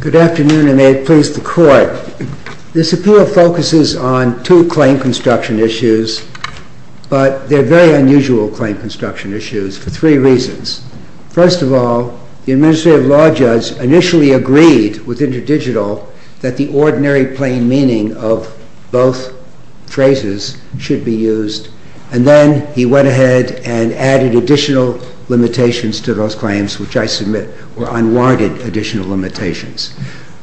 Good afternoon, and may it please the Court. This appeal focuses on two claim construction issues, but they are very unusual claim construction issues for three reasons. First of all, the Administrative Law Judge initially agreed with InterDigital that the ordinary plain meaning of both phrases should be used, and then he went ahead and added additional limitations to those claims, which I submit were unwarranted additional limitations.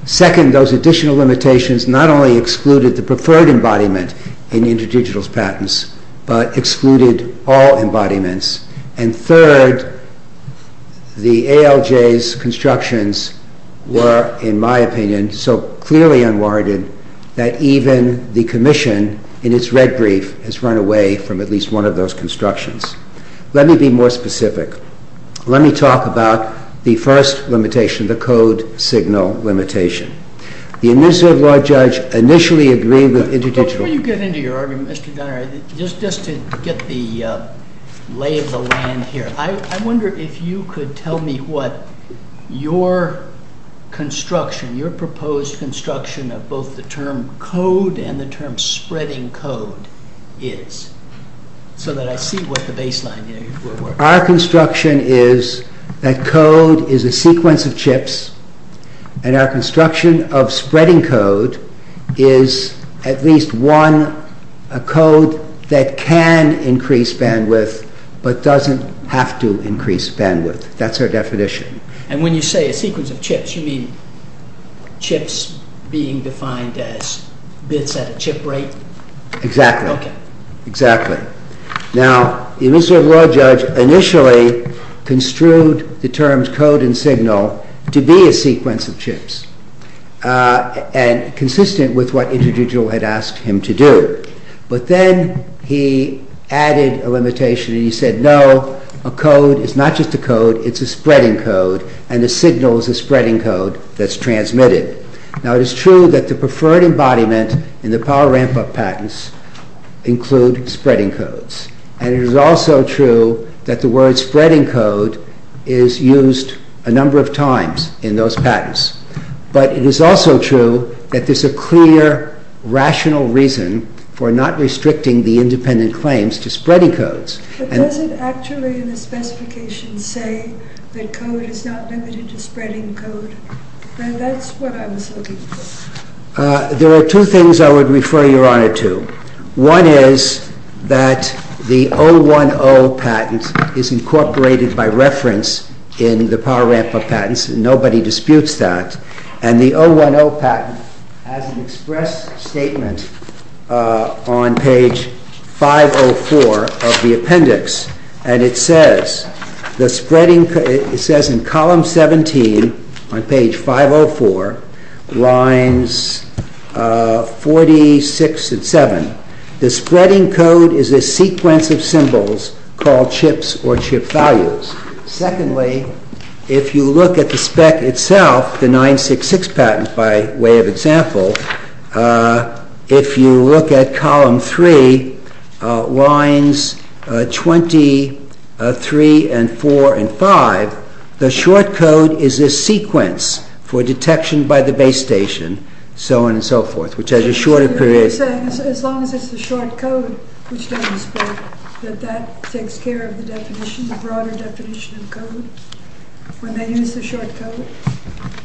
Second, those additional limitations not only excluded the preferred embodiment in InterDigital's patents, but excluded all embodiments. And third, the ALJ's constructions were, in my opinion, so clearly unwarranted that even the Commission, in its red brief, has run away from at least one of those constructions. Let me be more specific. Let me talk about the first limitation, the code signal limitation. The Administrative Law Judge initially agreed with InterDigital... JUSTICE SCALIA But before you get into your argument, Mr. Donner, just to get the lay of the land here, I wonder if you could tell me what your construction, your proposed construction of both the term code and the term spreading code is, so that I see what the baseline here is for work. MR. DONNER Our construction is that code is a sequence of chips, and our construction of spreading code is at least one code that can increase bandwidth but doesn't have to increase bandwidth. That's our definition. JUSTICE SCALIA And when you say a sequence of chips, you mean chips being defined as bits at a chip rate? MR. DONNER Exactly. Exactly. Now, the Administrative Law Judge initially construed the terms code and signal to be a sequence of chips, and consistent with what InterDigital had asked him to do. But then he added a limitation and he said, no, a code is not just a code, it's a spreading code, and a signal is a spreading code that's transmitted. Now, it is true that the preferred embodiment in the power ramp-up patents include spreading codes, and it is also true that the word spreading code is used a number of times in those patents. But it is also true that there's a clear, rational reason for not restricting the independent claims to spreading codes. JUSTICE SCALIA But does it actually in the specifications say that code is not limited to spreading code? Now, that's what I was looking for. MR. DONNER There are two things I would refer Your Honor to. One is that the 010 patent is incorporated by reference in the power ramp-up patents, and nobody disputes that, and the 010 patent has an express statement on page 504 of the appendix, and it says in column 17 on page 504, lines 46 and 7, the spreading code is a sequence of symbols called chips or chip values. Secondly, if you look at the spec itself, the 966 patent by way of example, if you look at column 3, lines 23 and 4 and 5, the short code is a sequence for detection by the base station, so on and so forth, which is a shorter period. JUSTICE SCALIA As long as it's the short code which doesn't spread, that that takes care of the definition, the broader definition of code, when they use the short code?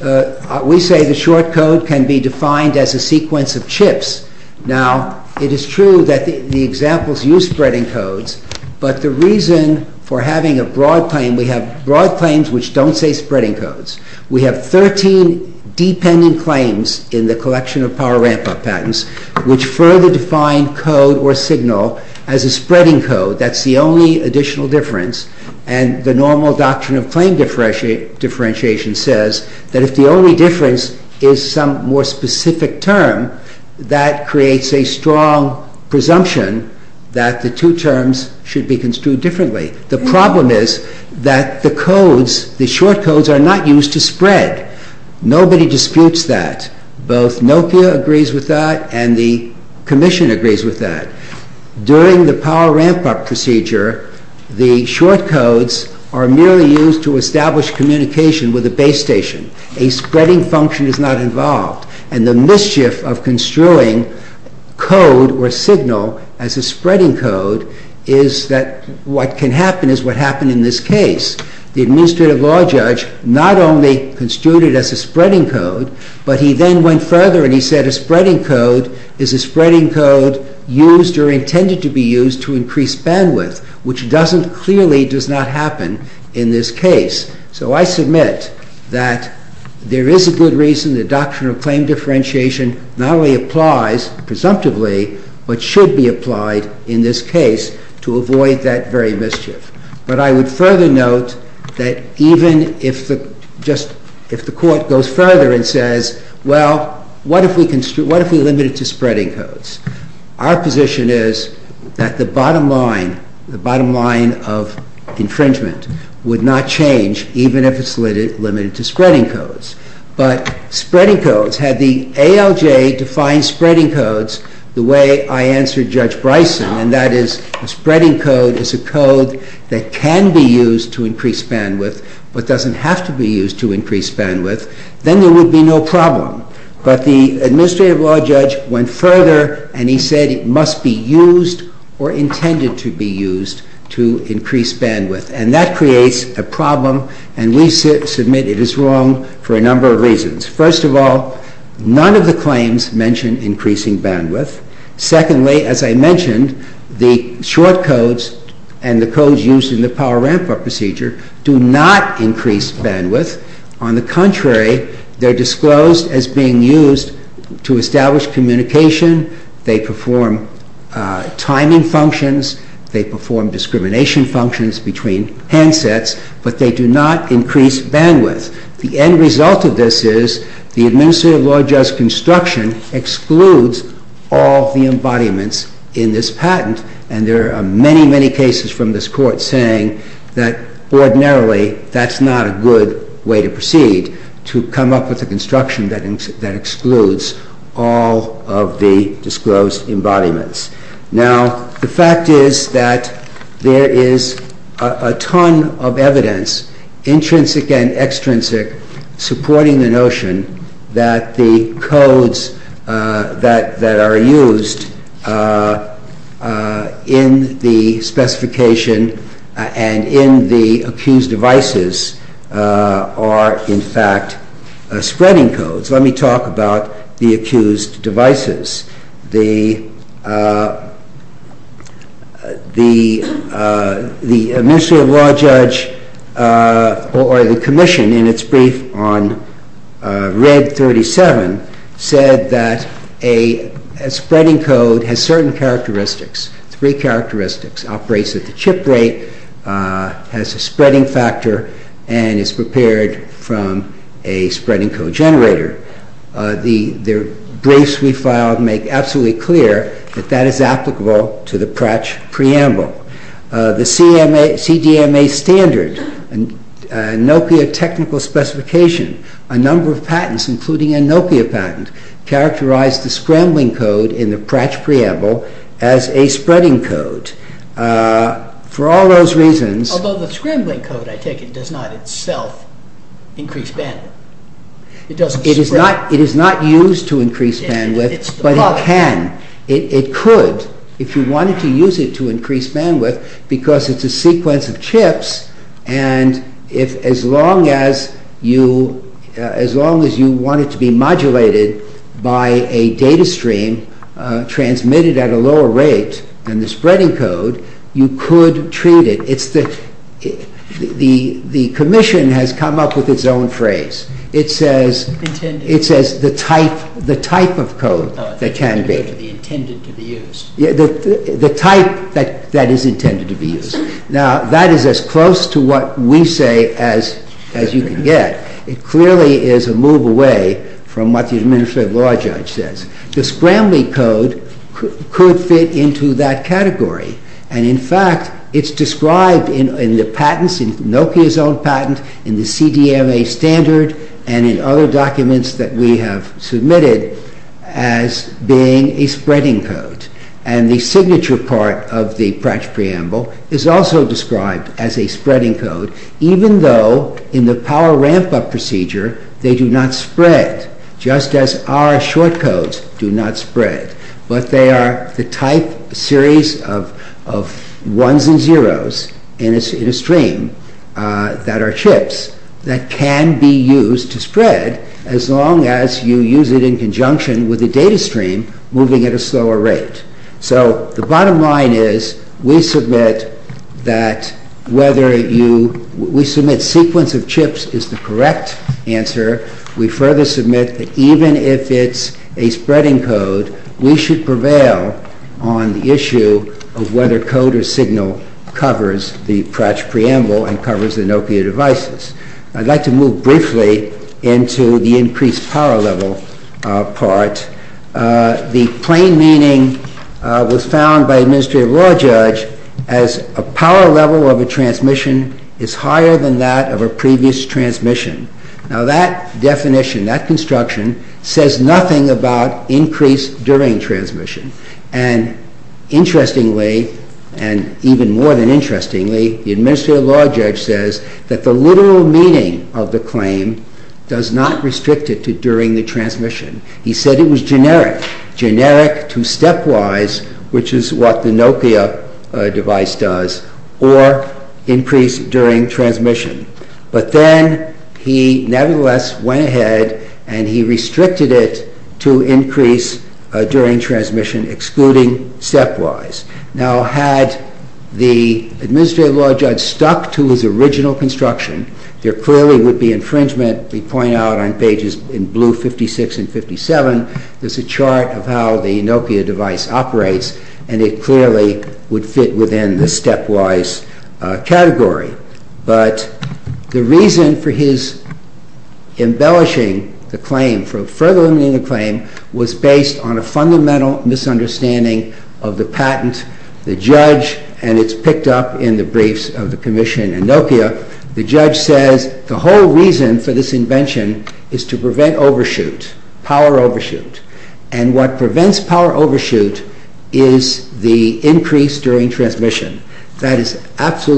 MR. DONNER We say the short code can be defined as a sequence of chips. Now, it is true that the examples use spreading codes, but the reason for having a broad claim, we have broad claims which don't say spreading codes. We have 13 dependent claims in the collection of power ramp-up patents which further define code or signal as a spreading code. That's the only additional difference, and the normal doctrine of claim differentiation says that if the only difference is some more specific term, that creates a strong presumption that the two terms should be construed differently. The problem is that the codes, the short codes, are not used to spread. Nobody disputes that. Both NOPIA agrees with that, and the Commission agrees with that. During the power ramp-up procedure, the short codes are merely used to establish communication with the base station. A spreading function is not involved, and the mischief of construing code or signal as a spreading code is that what can happen is what happened in this case. The administrative law judge not only construed it as a spreading code, but he then went further and he said a spreading code is a spreading code used or intended to be used to increase bandwidth, which clearly does not happen in this case. So I submit that there is a good reason the doctrine of claim differentiation not only applies presumptively, but should be applied in this case to avoid that very mischief. But I would further note that even if the Court goes further and says, well, what if we limited it to spreading codes? Our position is that the bottom line, the bottom line of infringement, would not change even if it's limited to spreading codes. But spreading codes are not limited to spreading codes. So if the LJ defines spreading codes the way I answered Judge Bryson, and that is a spreading code is a code that can be used to increase bandwidth, but doesn't have to be used to increase bandwidth, then there would be no problem. But the administrative law judge went further and he said it must be used or that creates a problem, and we submit it is wrong for a number of reasons. First of all, none of the claims mention increasing bandwidth. Secondly, as I mentioned, the short codes and the codes used in the power ramp-up procedure do not increase bandwidth. On the contrary, they're disclosed as being used to establish communication, they perform timing functions, they perform discrimination functions between handsets, but they do not increase bandwidth. The end result of this is the administrative law judge's construction excludes all the embodiments in this patent, and there are many, many cases from this Court saying that ordinarily that's not a good way to proceed, to come up with a construction that excludes all of the disclosed embodiments. Now, the fact is that there is a ton of evidence, intrinsic and extrinsic, supporting the notion that the codes that are used in the specification and in the accused devices are, in fact, spreading codes. Let me talk about the accused devices. The administrative law judge, or the commission, in its brief on Red 37 said that a spreading code has certain characteristics, three characteristics. It operates at the chip rate, has a spreading factor, and is prepared from a spreading code generator. The briefs we filed make absolutely clear that that is applicable to the Pratch preamble. The CDMA standard, NOPIA technical specification, a number of patents, including a NOPIA patent, characterized the scrambling code in the Pratch preamble as a spreading code. For all those reasons... It is not used to increase bandwidth, but it can. It could, if you wanted to use it to increase bandwidth, because it's a sequence of chips, and as long as you want it to be modulated by a data stream transmitted at a lower rate than the spreading code, you It says the type of code that can be. The type that is intended to be used. Now, that is as close to what we say as you can get. It clearly is a move away from what the administrative law judge says. The scrambling code could fit into that category, and in fact, it's submitted as being a spreading code, and the signature part of the Pratch preamble is also described as a spreading code, even though in the power ramp-up procedure, they do not spread, just as our short codes do not spread, but they are the type series of ones and zeros in a stream that are chips that can be used to spread as long as you use it in conjunction with the data stream moving at a slower rate. So, the bottom line is, we submit that whether you... We submit sequence of chips is the correct answer. We further submit that even if it's a spreading code, we should prevail on the issue of whether code or signal covers the Pratch preamble and covers the Nokia devices. I'd like to move briefly into the increased power level part. The plain meaning was found by administrative law judge as a power level of a transmission is higher than that of a previous transmission. Now, that definition, that construction, says nothing about increase during transmission, and even more than interestingly, the administrative law judge says that the literal meaning of the claim does not restrict it to during the transmission. He said it was generic. Generic to stepwise, which is what the Nokia device does, or increase during transmission. But then, he nevertheless went ahead and he restricted it to increase during transmission, excluding stepwise. Now, had the administrative law judge stuck to his original construction, there clearly would be infringement. We point out on pages in blue 56 and 57, there's a chart of how the Nokia device operates, and it clearly would fit within the stepwise category. But the reason for his embellishing the claim, for further embellishing the claim, was based on a fundamental misunderstanding of the patent. The judge, and it's picked up in the briefs of the commission in Nokia, the judge says the whole reason for this invention is to prevent overshoot, power overshoot. And what prevents power overshoot is the increase during transmission. That is exactly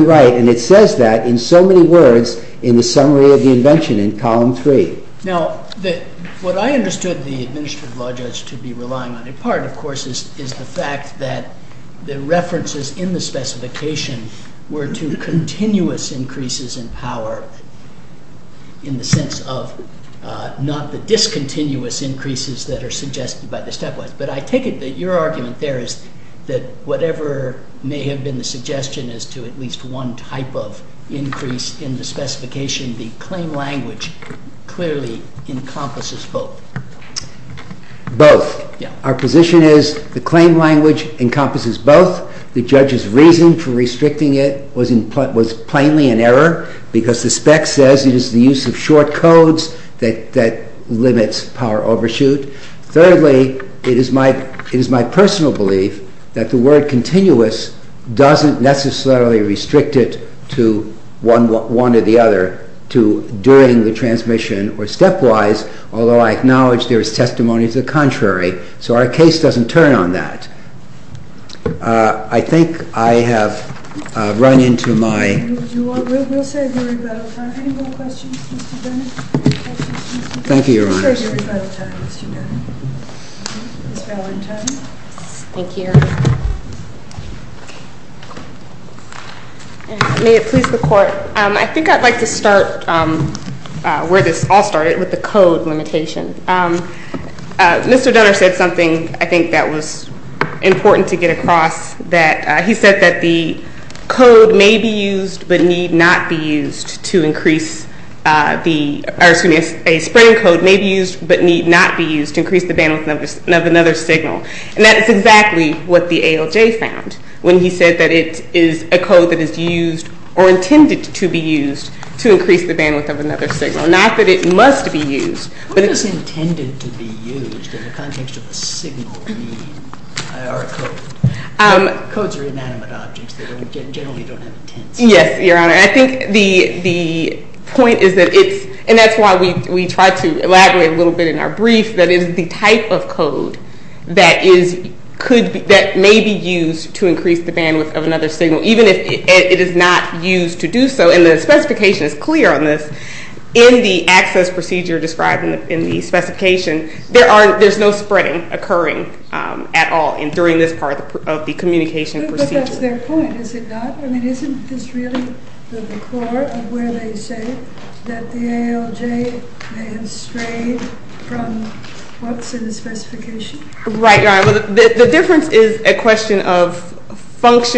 right, and it says that in so many words in the summary of the invention in column 3. Now, what I understood the administrative law judge to be relying on in part, of course, is the fact that the references in the specification were to continuous increases in power, in the sense of not the discontinuous increases that are suggested by the stepwise. But I take it that your argument there is that whatever may have been the suggestion is to at least one type of increase in the specification. The claim language clearly encompasses both. Both. Our position is the claim language encompasses both. The judge's reason for restricting it was plainly an error, because the spec says it is the use of short codes that limits power increase. I personally believe that the word continuous doesn't necessarily restrict it to one or the other, to during the transmission or stepwise, although I acknowledge there is testimony to the contrary. So our case doesn't turn on that. I think I have run into my... Thank you. May it please the court, I think I'd like to start where this all started with the code limitation. Mr. Dunner said something I think that was important to get across, that he said that the code may be used but need not be used to increase... A spring code may be used but need not be used to increase the bandwidth of another signal. And that is exactly what the ALJ found when he said that it is a code that is used or intended to be used to increase the bandwidth of another signal. Not that it must be used, but... What does intended to be used in the context of a signal mean? Codes are inanimate objects. They generally don't have intents. Yes, Your Honor. I think the point is that it's... And that's why we try to elaborate a little bit in our brief that it is the type of code that may be used to increase the bandwidth of another signal, even if it is not used to do so. And the specification is clear on this. In the access procedure described in the specification, there's no spreading occurring at all during this part of the communication procedure. But that's their point, is it not? I mean, isn't this really the core of where they say that the ALJ may have strayed from what's in the specification? Right, Your Honor. The difference is a question of and what is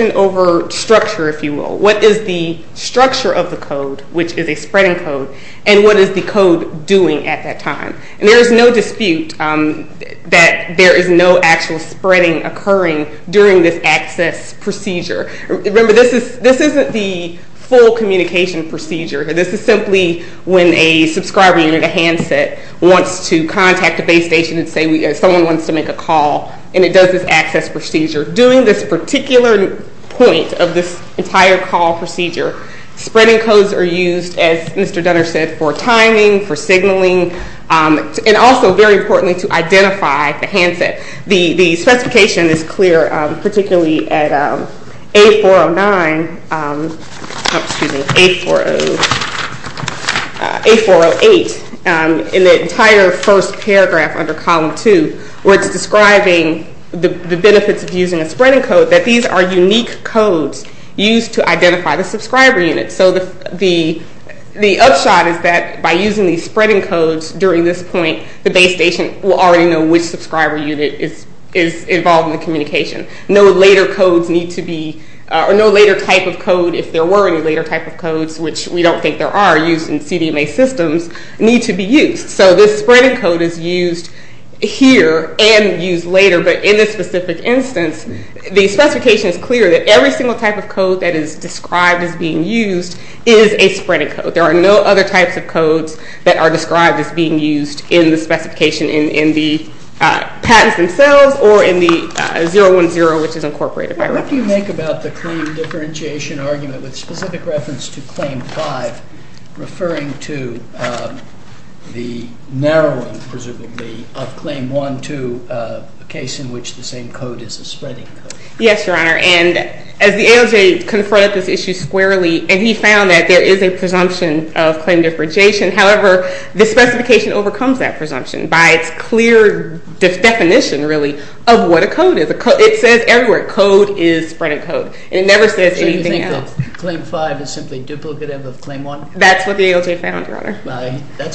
the code doing at that time? And there is no dispute that there is no actual spreading occurring during this access procedure. Remember, this isn't the full communication procedure. This is simply when a subscriber unit, a handset, wants to contact a base station and say someone wants to make a call, and it does this access procedure. During this particular point of this entire call procedure, spreading codes are used, as Mr. Dunner said, for timing, for signaling, and also, very importantly, to identify the handset. The specification is clear, particularly at A409, excuse me, A408, in the entire first time, unique codes used to identify the subscriber unit. So the upshot is that by using these spreading codes during this point, the base station will already know which subscriber unit is involved in the communication. No later codes need to be, or no later type of code, if there were any later type of codes, which we don't think there are used in CDMA systems, need to be used. So this spreading code is used here and used later, but in this specific instance, the specification is clear that every single type of code that is described as being used is a spreading code. There are no other types of codes that are described as being used in the specification in the patents themselves or in the 010, which is incorporated. What do you make about the claim differentiation argument with specific reference to Claim 5, referring to the narrowing, presumably, of Claim 1 to a case in which the same code is a spreading code? Yes, Your Honor, and as the ALJ confronted this issue squarely, and he found that there is a presumption of claim differentiation, however, the specification overcomes that presumption by its clear definition, really, of what a code is. It says everywhere, code is spreading code. It never says anything else. Claim 5 is simply duplicative of Claim 1? That's what the ALJ found, Your Honor. Is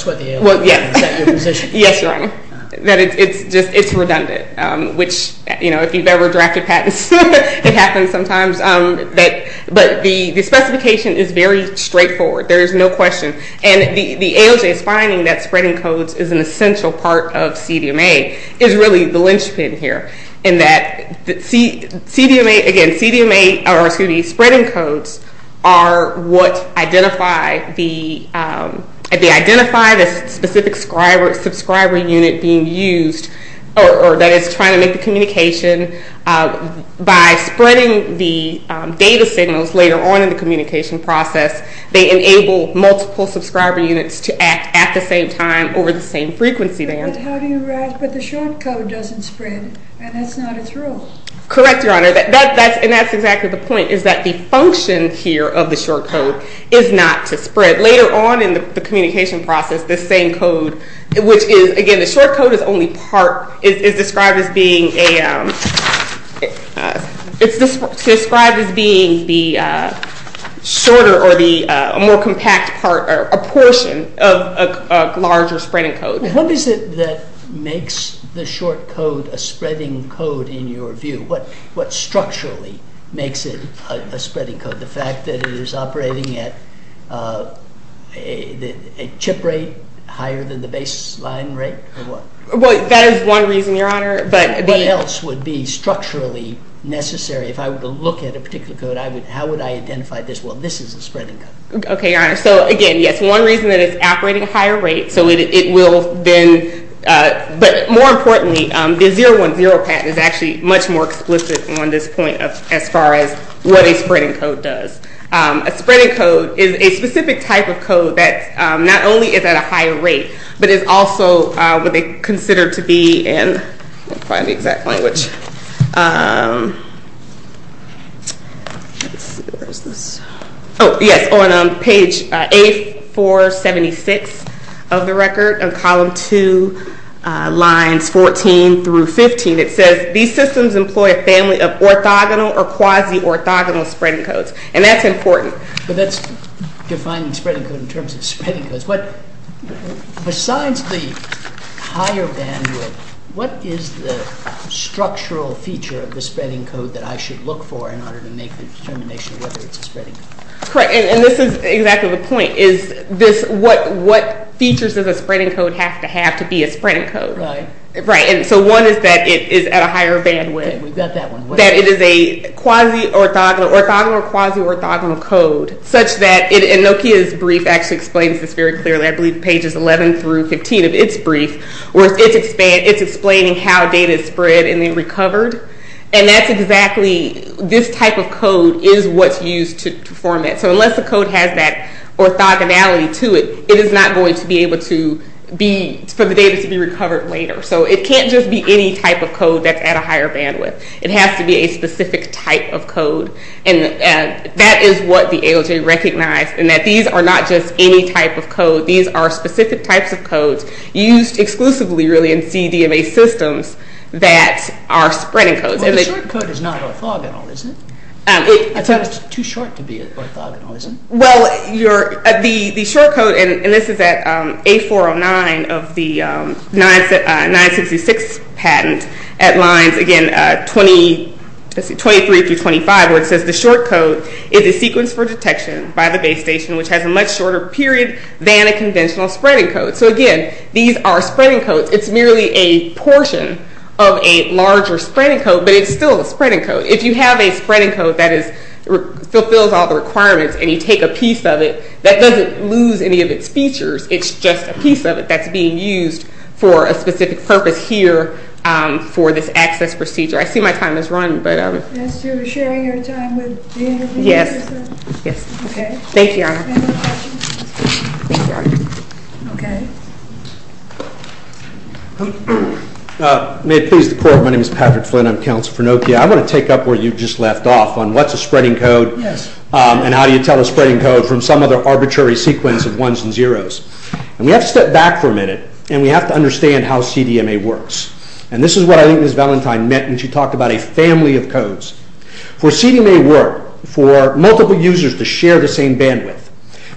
that your position? Yes, Your Honor. It's redundant, which if you've ever drafted patents, it happens sometimes, but the specification is very straightforward. There is no question. And the ALJ's finding that spreading codes is an essential part of CDMA is really the linchpin here, in that CDMA, again, CDMA, or excuse me, spreading codes, are what identify the specific subscriber unit being used, or that is trying to make the communication, by spreading the data signals later on in the communication process, they enable multiple subscriber units to act at the same time over the same frequency band. But the short code doesn't spread, and that's not its role. Correct, Your Honor, and that's exactly the point, is that the function here of the short code is not to spread. Later on in the communication process, the same code, which is, again, the short code is described as being shorter, or a more compact portion of a larger spreading code. What is it that makes the short code a spreading code, in your view? What structurally makes it a spreading code? The fact that it is operating at a chip rate higher than the baseline rate, or what? Well, that is one reason, Your Honor, but... What else would be structurally necessary? If I were to look at a particular code, how would I identify this? Well, this is a spreading code. Okay, Your Honor, so again, yes, one reason that it's operating at a higher rate, so it will then, but more importantly, the 010 patent is actually much more explicit on this point as far as what a spreading code does. A spreading code is a specific type of code that not only is at a higher rate, but is also what they consider to be in... I can't find the exact language. Let's see, where is this? Oh, yes, on page A476 of the record, on column 2, lines 14 through 15, it says, these systems employ a family of orthogonal or quasi-orthogonal spreading codes, and that's important. But that's defining spreading code in terms of spreading codes. Besides the higher bandwidth, what is the structural feature of the spreading code that I should look for in order to make the determination whether it's a spreading code? Correct, and this is exactly the point. What features does a spreading code have to have to be a spreading code? Right, and so one is that it is at a higher bandwidth, that it is a quasi-orthogonal or quasi-orthogonal code, such that Nokia's brief actually explains this very clearly. I believe pages 11 through 15 of its brief, where it's explaining how data is spread and then recovered. And that's exactly, this type of code is what's used to form it. So unless the code has that orthogonality to it, it is not going to be able to be, for the data to be recovered later. So it can't just be any type of code that's at a higher bandwidth. It has to be a specific type of code. And that is what the ALJ recognized, in that these are not just any type of code. These are specific types of codes used exclusively, really, in CDMA systems that are spreading codes. Well, the short code is not orthogonal, is it? It's too short to be orthogonal, is it? Well, the short code, and this is at A409 of the 966 patent, at lines, again, 23 through 25, where it says, the short code is a sequence for detection by the base station, which has a much shorter period than a conventional spreading code. So again, these are spreading codes. It's merely a portion of a larger spreading code, but it's still a spreading code. If you have a spreading code that fulfills all the requirements and you take a piece of it, that doesn't lose any of its features. It's just a piece of it that's being used for a specific purpose here for this access procedure. I see my time has run, but... Yes. Thank you, Your Honor. May it please the Court, my name is Patrick Flynn, I'm the director of CDMA, and I'm going to talk to you about how to tell a spreading code, and how do you tell a spreading code from some other arbitrary sequence of ones and zeros. And we have to step back for a minute, and we have to understand how CDMA works. And this is what I think Ms. Valentine meant when she talked about a family of codes. For CDMA to work, for multiple users to share the same bandwidth,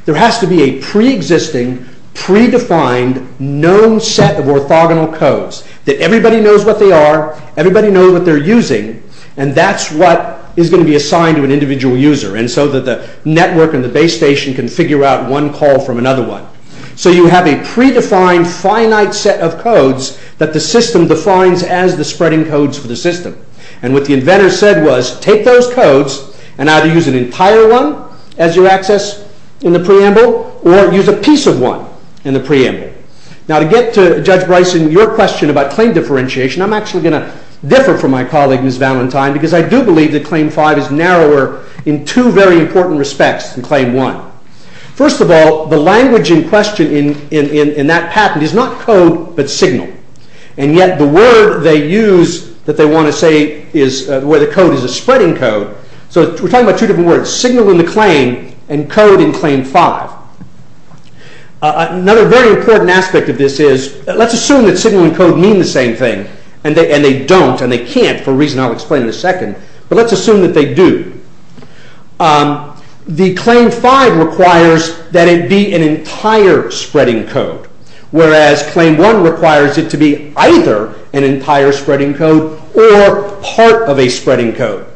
there has to be a pre-existing, pre-defined, known set of orthogonal codes that everybody knows what they are, everybody knows what they're using, and that's what is going to be assigned to an individual user. And so that the network and the base station can figure out one call from another one. So you have a pre-defined, finite set of codes that the system defines as the spreading codes for the system. And what the inventor said was, take those codes and either use an entire one as your access in the preamble, or use a piece of one in the preamble. Now to get to Judge Bryson, your question about claim differentiation, I'm actually going to differ from my colleague Ms. Valentine, because I do believe that Claim 5 is narrower in two very important respects than Claim 1. First of all, the language in question in that patent is not code, but signal. And yet the word they use that they want to say where the code is a spreading code, so we're talking about two different words, signal in the claim, and code in Claim 5. Another very important aspect of this is, let's assume that signal and code mean the same thing, and they don't, and they can't, for a reason I'll explain in a second, but let's assume that they do. The Claim 5 requires that it be an entire spreading code, whereas Claim 1 requires it to be either an entire spreading code, or part of a spreading code.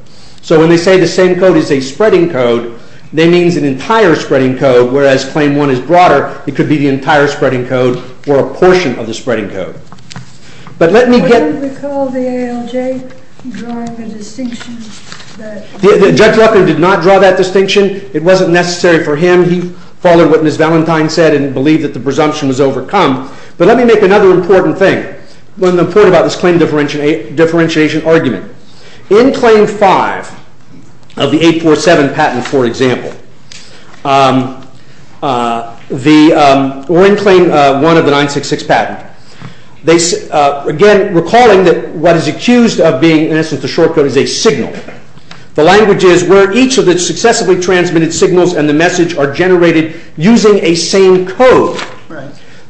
So when they say the same code is a spreading code, they mean an entire spreading code, whereas Claim 1 is broader, it could be the entire spreading code, or a portion of the spreading code. But let me get... But let me make another important thing. In Claim 5 of the 847 patent, for example, or in Claim 1 of the 966 patent, again, recalling that what is accused of being, in essence, a shortcut is a signal, the language is where each of the successfully transmitted signals and the message are generated using a same code.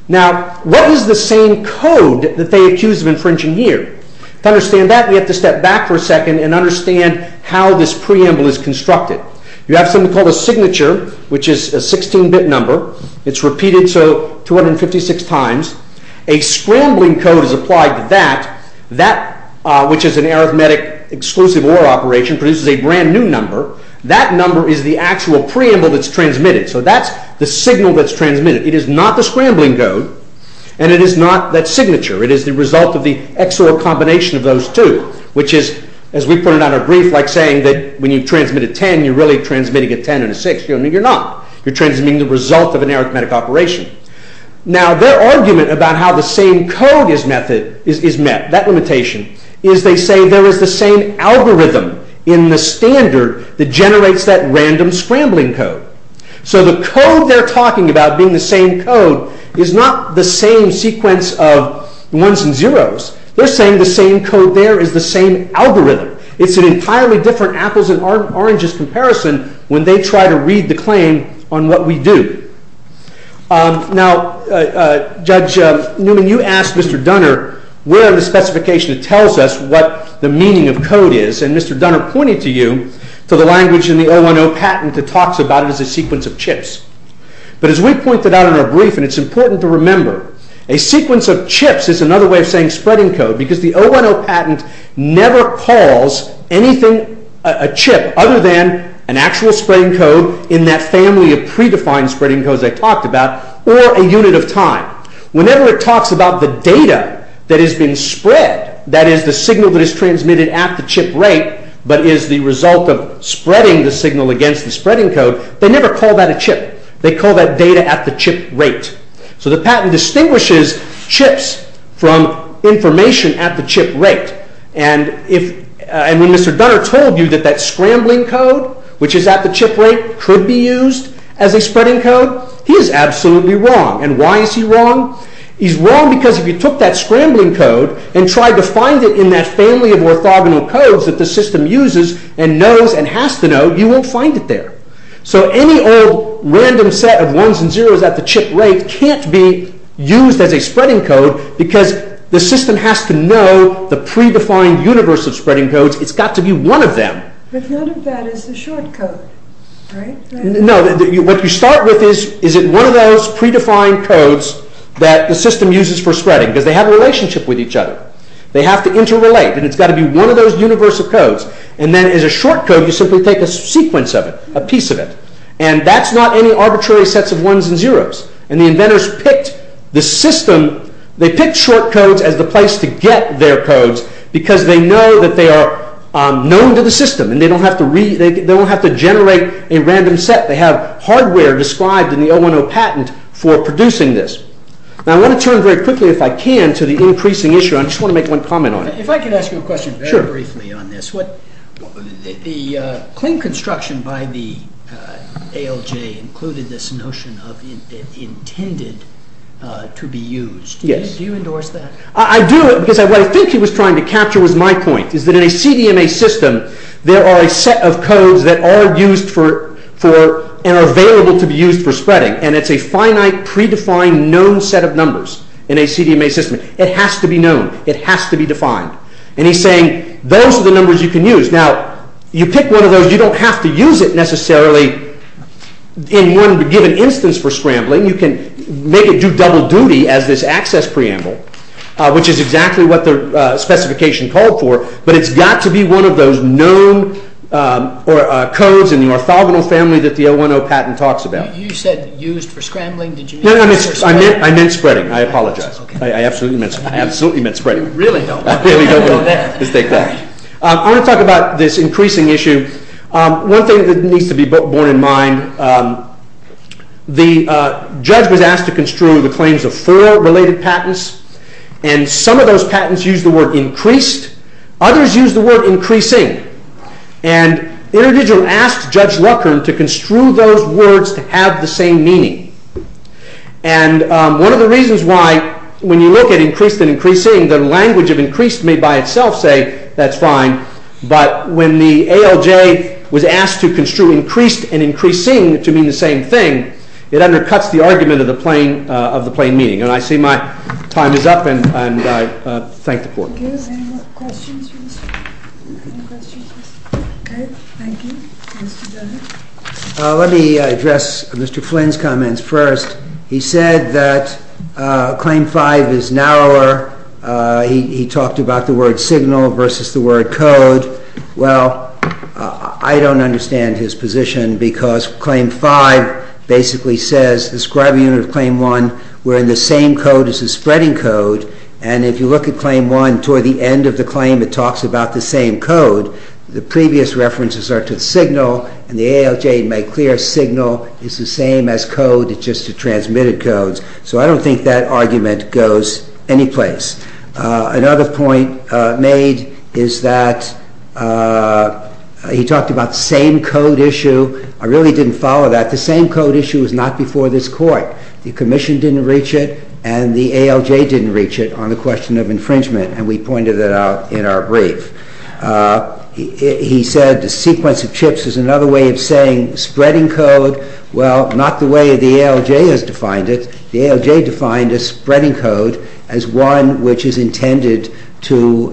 Now, what is the same code that they accuse of infringing here? To understand that, we have to step back for a second and understand how this preamble is constructed. You have something called a signature, which is a 16-bit number, it's repeated 256 times, a scrambling code is applied to that, which is an arithmetic exclusive OR operation, produces a brand new number, that number is the actual preamble that's transmitted. So that's the signal that's transmitted. It is not the scrambling code, and it is not that signature. It is the result of the XOR combination of those two, which is, as we put it on our brief, like saying that when you transmit a 10, you're really transmitting a 10 and a 6, you're not. You're transmitting the result of an arithmetic operation. Now, their argument about how the same code is met, that limitation, is they say there is the same algorithm in the standard that generates that random scrambling code. So the code they're talking about being the same code is not the same sequence of ones and zeros. They're saying the same code there is the same algorithm. It's an entirely different apples and oranges comparison when they try to read the claim on what we do. Now, Judge Newman, you asked Mr. Dunner where in the specification it tells us what the meaning of code is, and Mr. Dunner pointed to you to the language in the 010 patent that talks about it as a sequence of chips. But as we pointed out in our brief, and it's important to remember, a sequence of chips is another way of saying spreading code because the 010 patent never calls anything a chip other than an actual spreading code in that family of predefined spreading codes I talked about, or a unit of time. Whenever it talks about the data that is being spread, that is the signal that is transmitted at the chip rate, but is the result of spreading the signal against the spreading code, they never call that a chip. They call that data at the chip rate. So the patent distinguishes chips from information at the chip rate. And when Mr. Dunner told you that that scrambling code, which is at the chip rate, could be used as a spreading code, he is absolutely wrong. And why is he wrong? He's wrong because if you took that scrambling code and tried to find it in that family of orthogonal codes that the system uses and knows and has to know, you won't find it there. So any old random set of ones and zeros at the chip rate can't be used as a spreading code because the system has to know the predefined universe of spreading codes. It's got to be one of them. But none of that is a short code, right? No, what you start with is, is it one of those predefined codes that the system uses for spreading? Because they have a relationship with each other. They have to interrelate, and it's got to be one of those universe of codes. And then as a short code, you simply take a sequence of it, a piece of it. And that's not any arbitrary sets of ones and zeros. And the inventors picked the system, they picked short codes as the place to get their codes because they know that they are known to the system and they don't have to generate a random set. They have hardware described in the 010 patent for producing this. Now I want to turn very quickly, if I can, to the increasing issue. I just want to make one comment on it. If I can ask you a question very briefly on this. The clean construction by the ALJ included this notion of intended to be used. Do you endorse that? I do, because what I think he was trying to capture was my point. Is that in a CDMA system, there are a set of codes that are used for, and are available to be used for spreading. And it's a finite, predefined, known set of numbers in a CDMA system. It has to be known. It has to be defined. And he's saying, those are the numbers you can use. Now, you pick one of those, you don't have to use it necessarily in one given instance for scrambling. You can make it do double duty as this access preamble, which is exactly what the specification called for. But it's got to be one of those known codes in the orthogonal family that the 010 patent talks about. You said used for scrambling? I meant spreading. I apologize. I absolutely meant spreading. You really don't. I really don't. Let's take that. I want to talk about this increasing issue. One thing that needs to be borne in mind, the judge was asked to construe the claims of four related patents, and some of those patents used the word increased. Others used the word increasing. And InterDigital asked Judge Rucker to construe those words to have the same meaning. And one of the reasons why, when you look at increased and increasing, the language of increased may by itself say that's fine, but when the ALJ was asked to construe increased and increasing to mean the same thing, it undercuts the argument of the plain meaning. And I see my time is up, and I thank the Court. Thank you. Any more questions? Any questions? Okay. Thank you. Let me address Mr. Flynn's comments first. He said that Claim 5 is narrower. He talked about the word signal versus the word code. Well, I don't understand his position because Claim 5 basically says the scribe unit of Claim 1, we're in the same code as the spreading code, and if you look at Claim 1 toward the end of the claim, it talks about the same code. The previous references are to the signal, and the ALJ made clear signal is the same as code. It's just transmitted codes. So I don't think that argument goes anyplace. Another point made is that he talked about the same code issue. I really didn't follow that. The same code issue was not before this Court. The Commission didn't reach it, and the ALJ didn't reach it on the question of infringement, and we pointed that out in our brief. He said the sequence of chips is another way of saying spreading code. Well, not the way the ALJ has defined it. The ALJ defined a spreading code as one which is intended to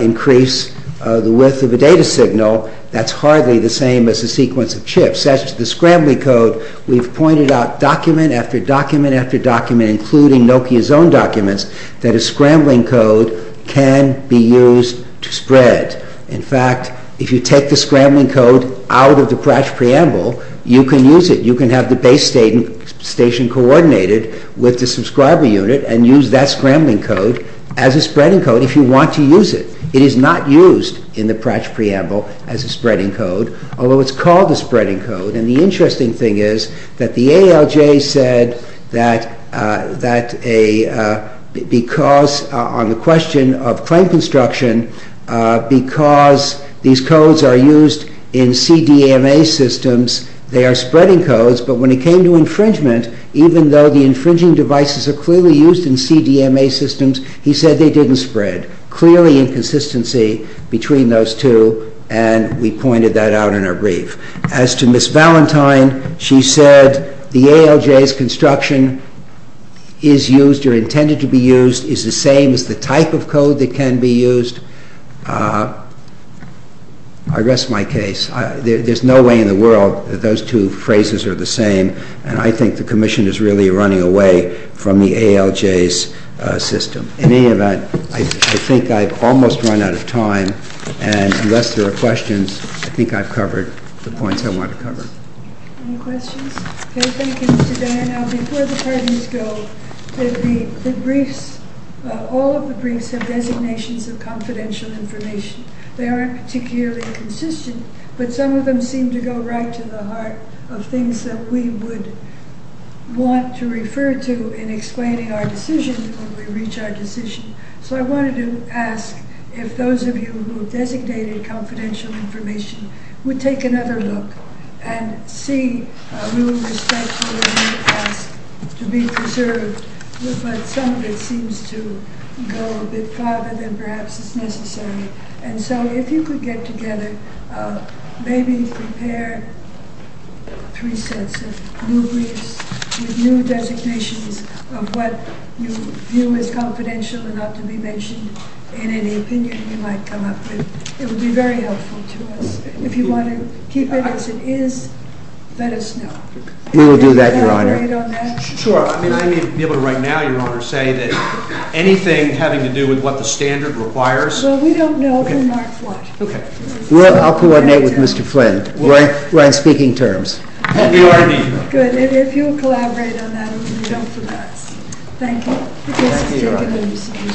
increase the width of a data signal. That's hardly the same as a sequence of chips. As to the scrambling code, we've pointed out document after document after document, including Nokia's own documents, that a scrambling code can be used to spread. In fact, if you take the scrambling code out of the Pratchett Preamble, you can use it. You can have the base station coordinated with the subscriber unit and use that scrambling code as a spreading code if you want to use it. It is not used in the Pratchett Preamble as a spreading code, although it's called a spreading code. And the interesting thing is that the ALJ said that on the question of claim construction, because these codes are used in CDMA systems, they are spreading codes, but when it came to infringement, even though the infringing devices are clearly used in CDMA systems, he said they didn't spread, clearly inconsistency between those two, and we pointed that out in our brief. As to Ms. Valentine, she said the ALJ's construction is used or intended to be used is the same as the type of code that can be used. I rest my case. There's no way in the world that those two phrases are the same, and I think the Commission is really running away from the ALJ's system. In any event, I think I've almost run out of time, and unless there are questions, I think I've covered the points I wanted to cover. Any questions? Okay, thank you, Mr. Dyer. Now, before the pardons go, all of the briefs have designations of confidential information. They aren't particularly consistent, but some of them seem to go right to the heart of things that we would want to refer to in explaining our decisions when we reach our decision. So I wanted to ask if those of you who have designated confidential information would take another look and see, we would respectfully ask to be preserved, but some of it seems to go a bit farther than perhaps is necessary. And so if you could get together, maybe prepare three sets of new briefs with new designations of what you view as confidential and not to be mentioned in any opinion you might come up with. It would be very helpful to us. If you want to keep it as it is, let us know. We will do that, Your Honor. Sure. I mean, I may be able to right now, Your Honor, say that anything having to do with what the standard requires Well, we don't know who marks what. Well, I'll coordinate with Mr. Flynn. We're on speaking terms. We are meeting. Good. And if you'll collaborate on that, we don't forget. Thank you. Thank you, Your Honor.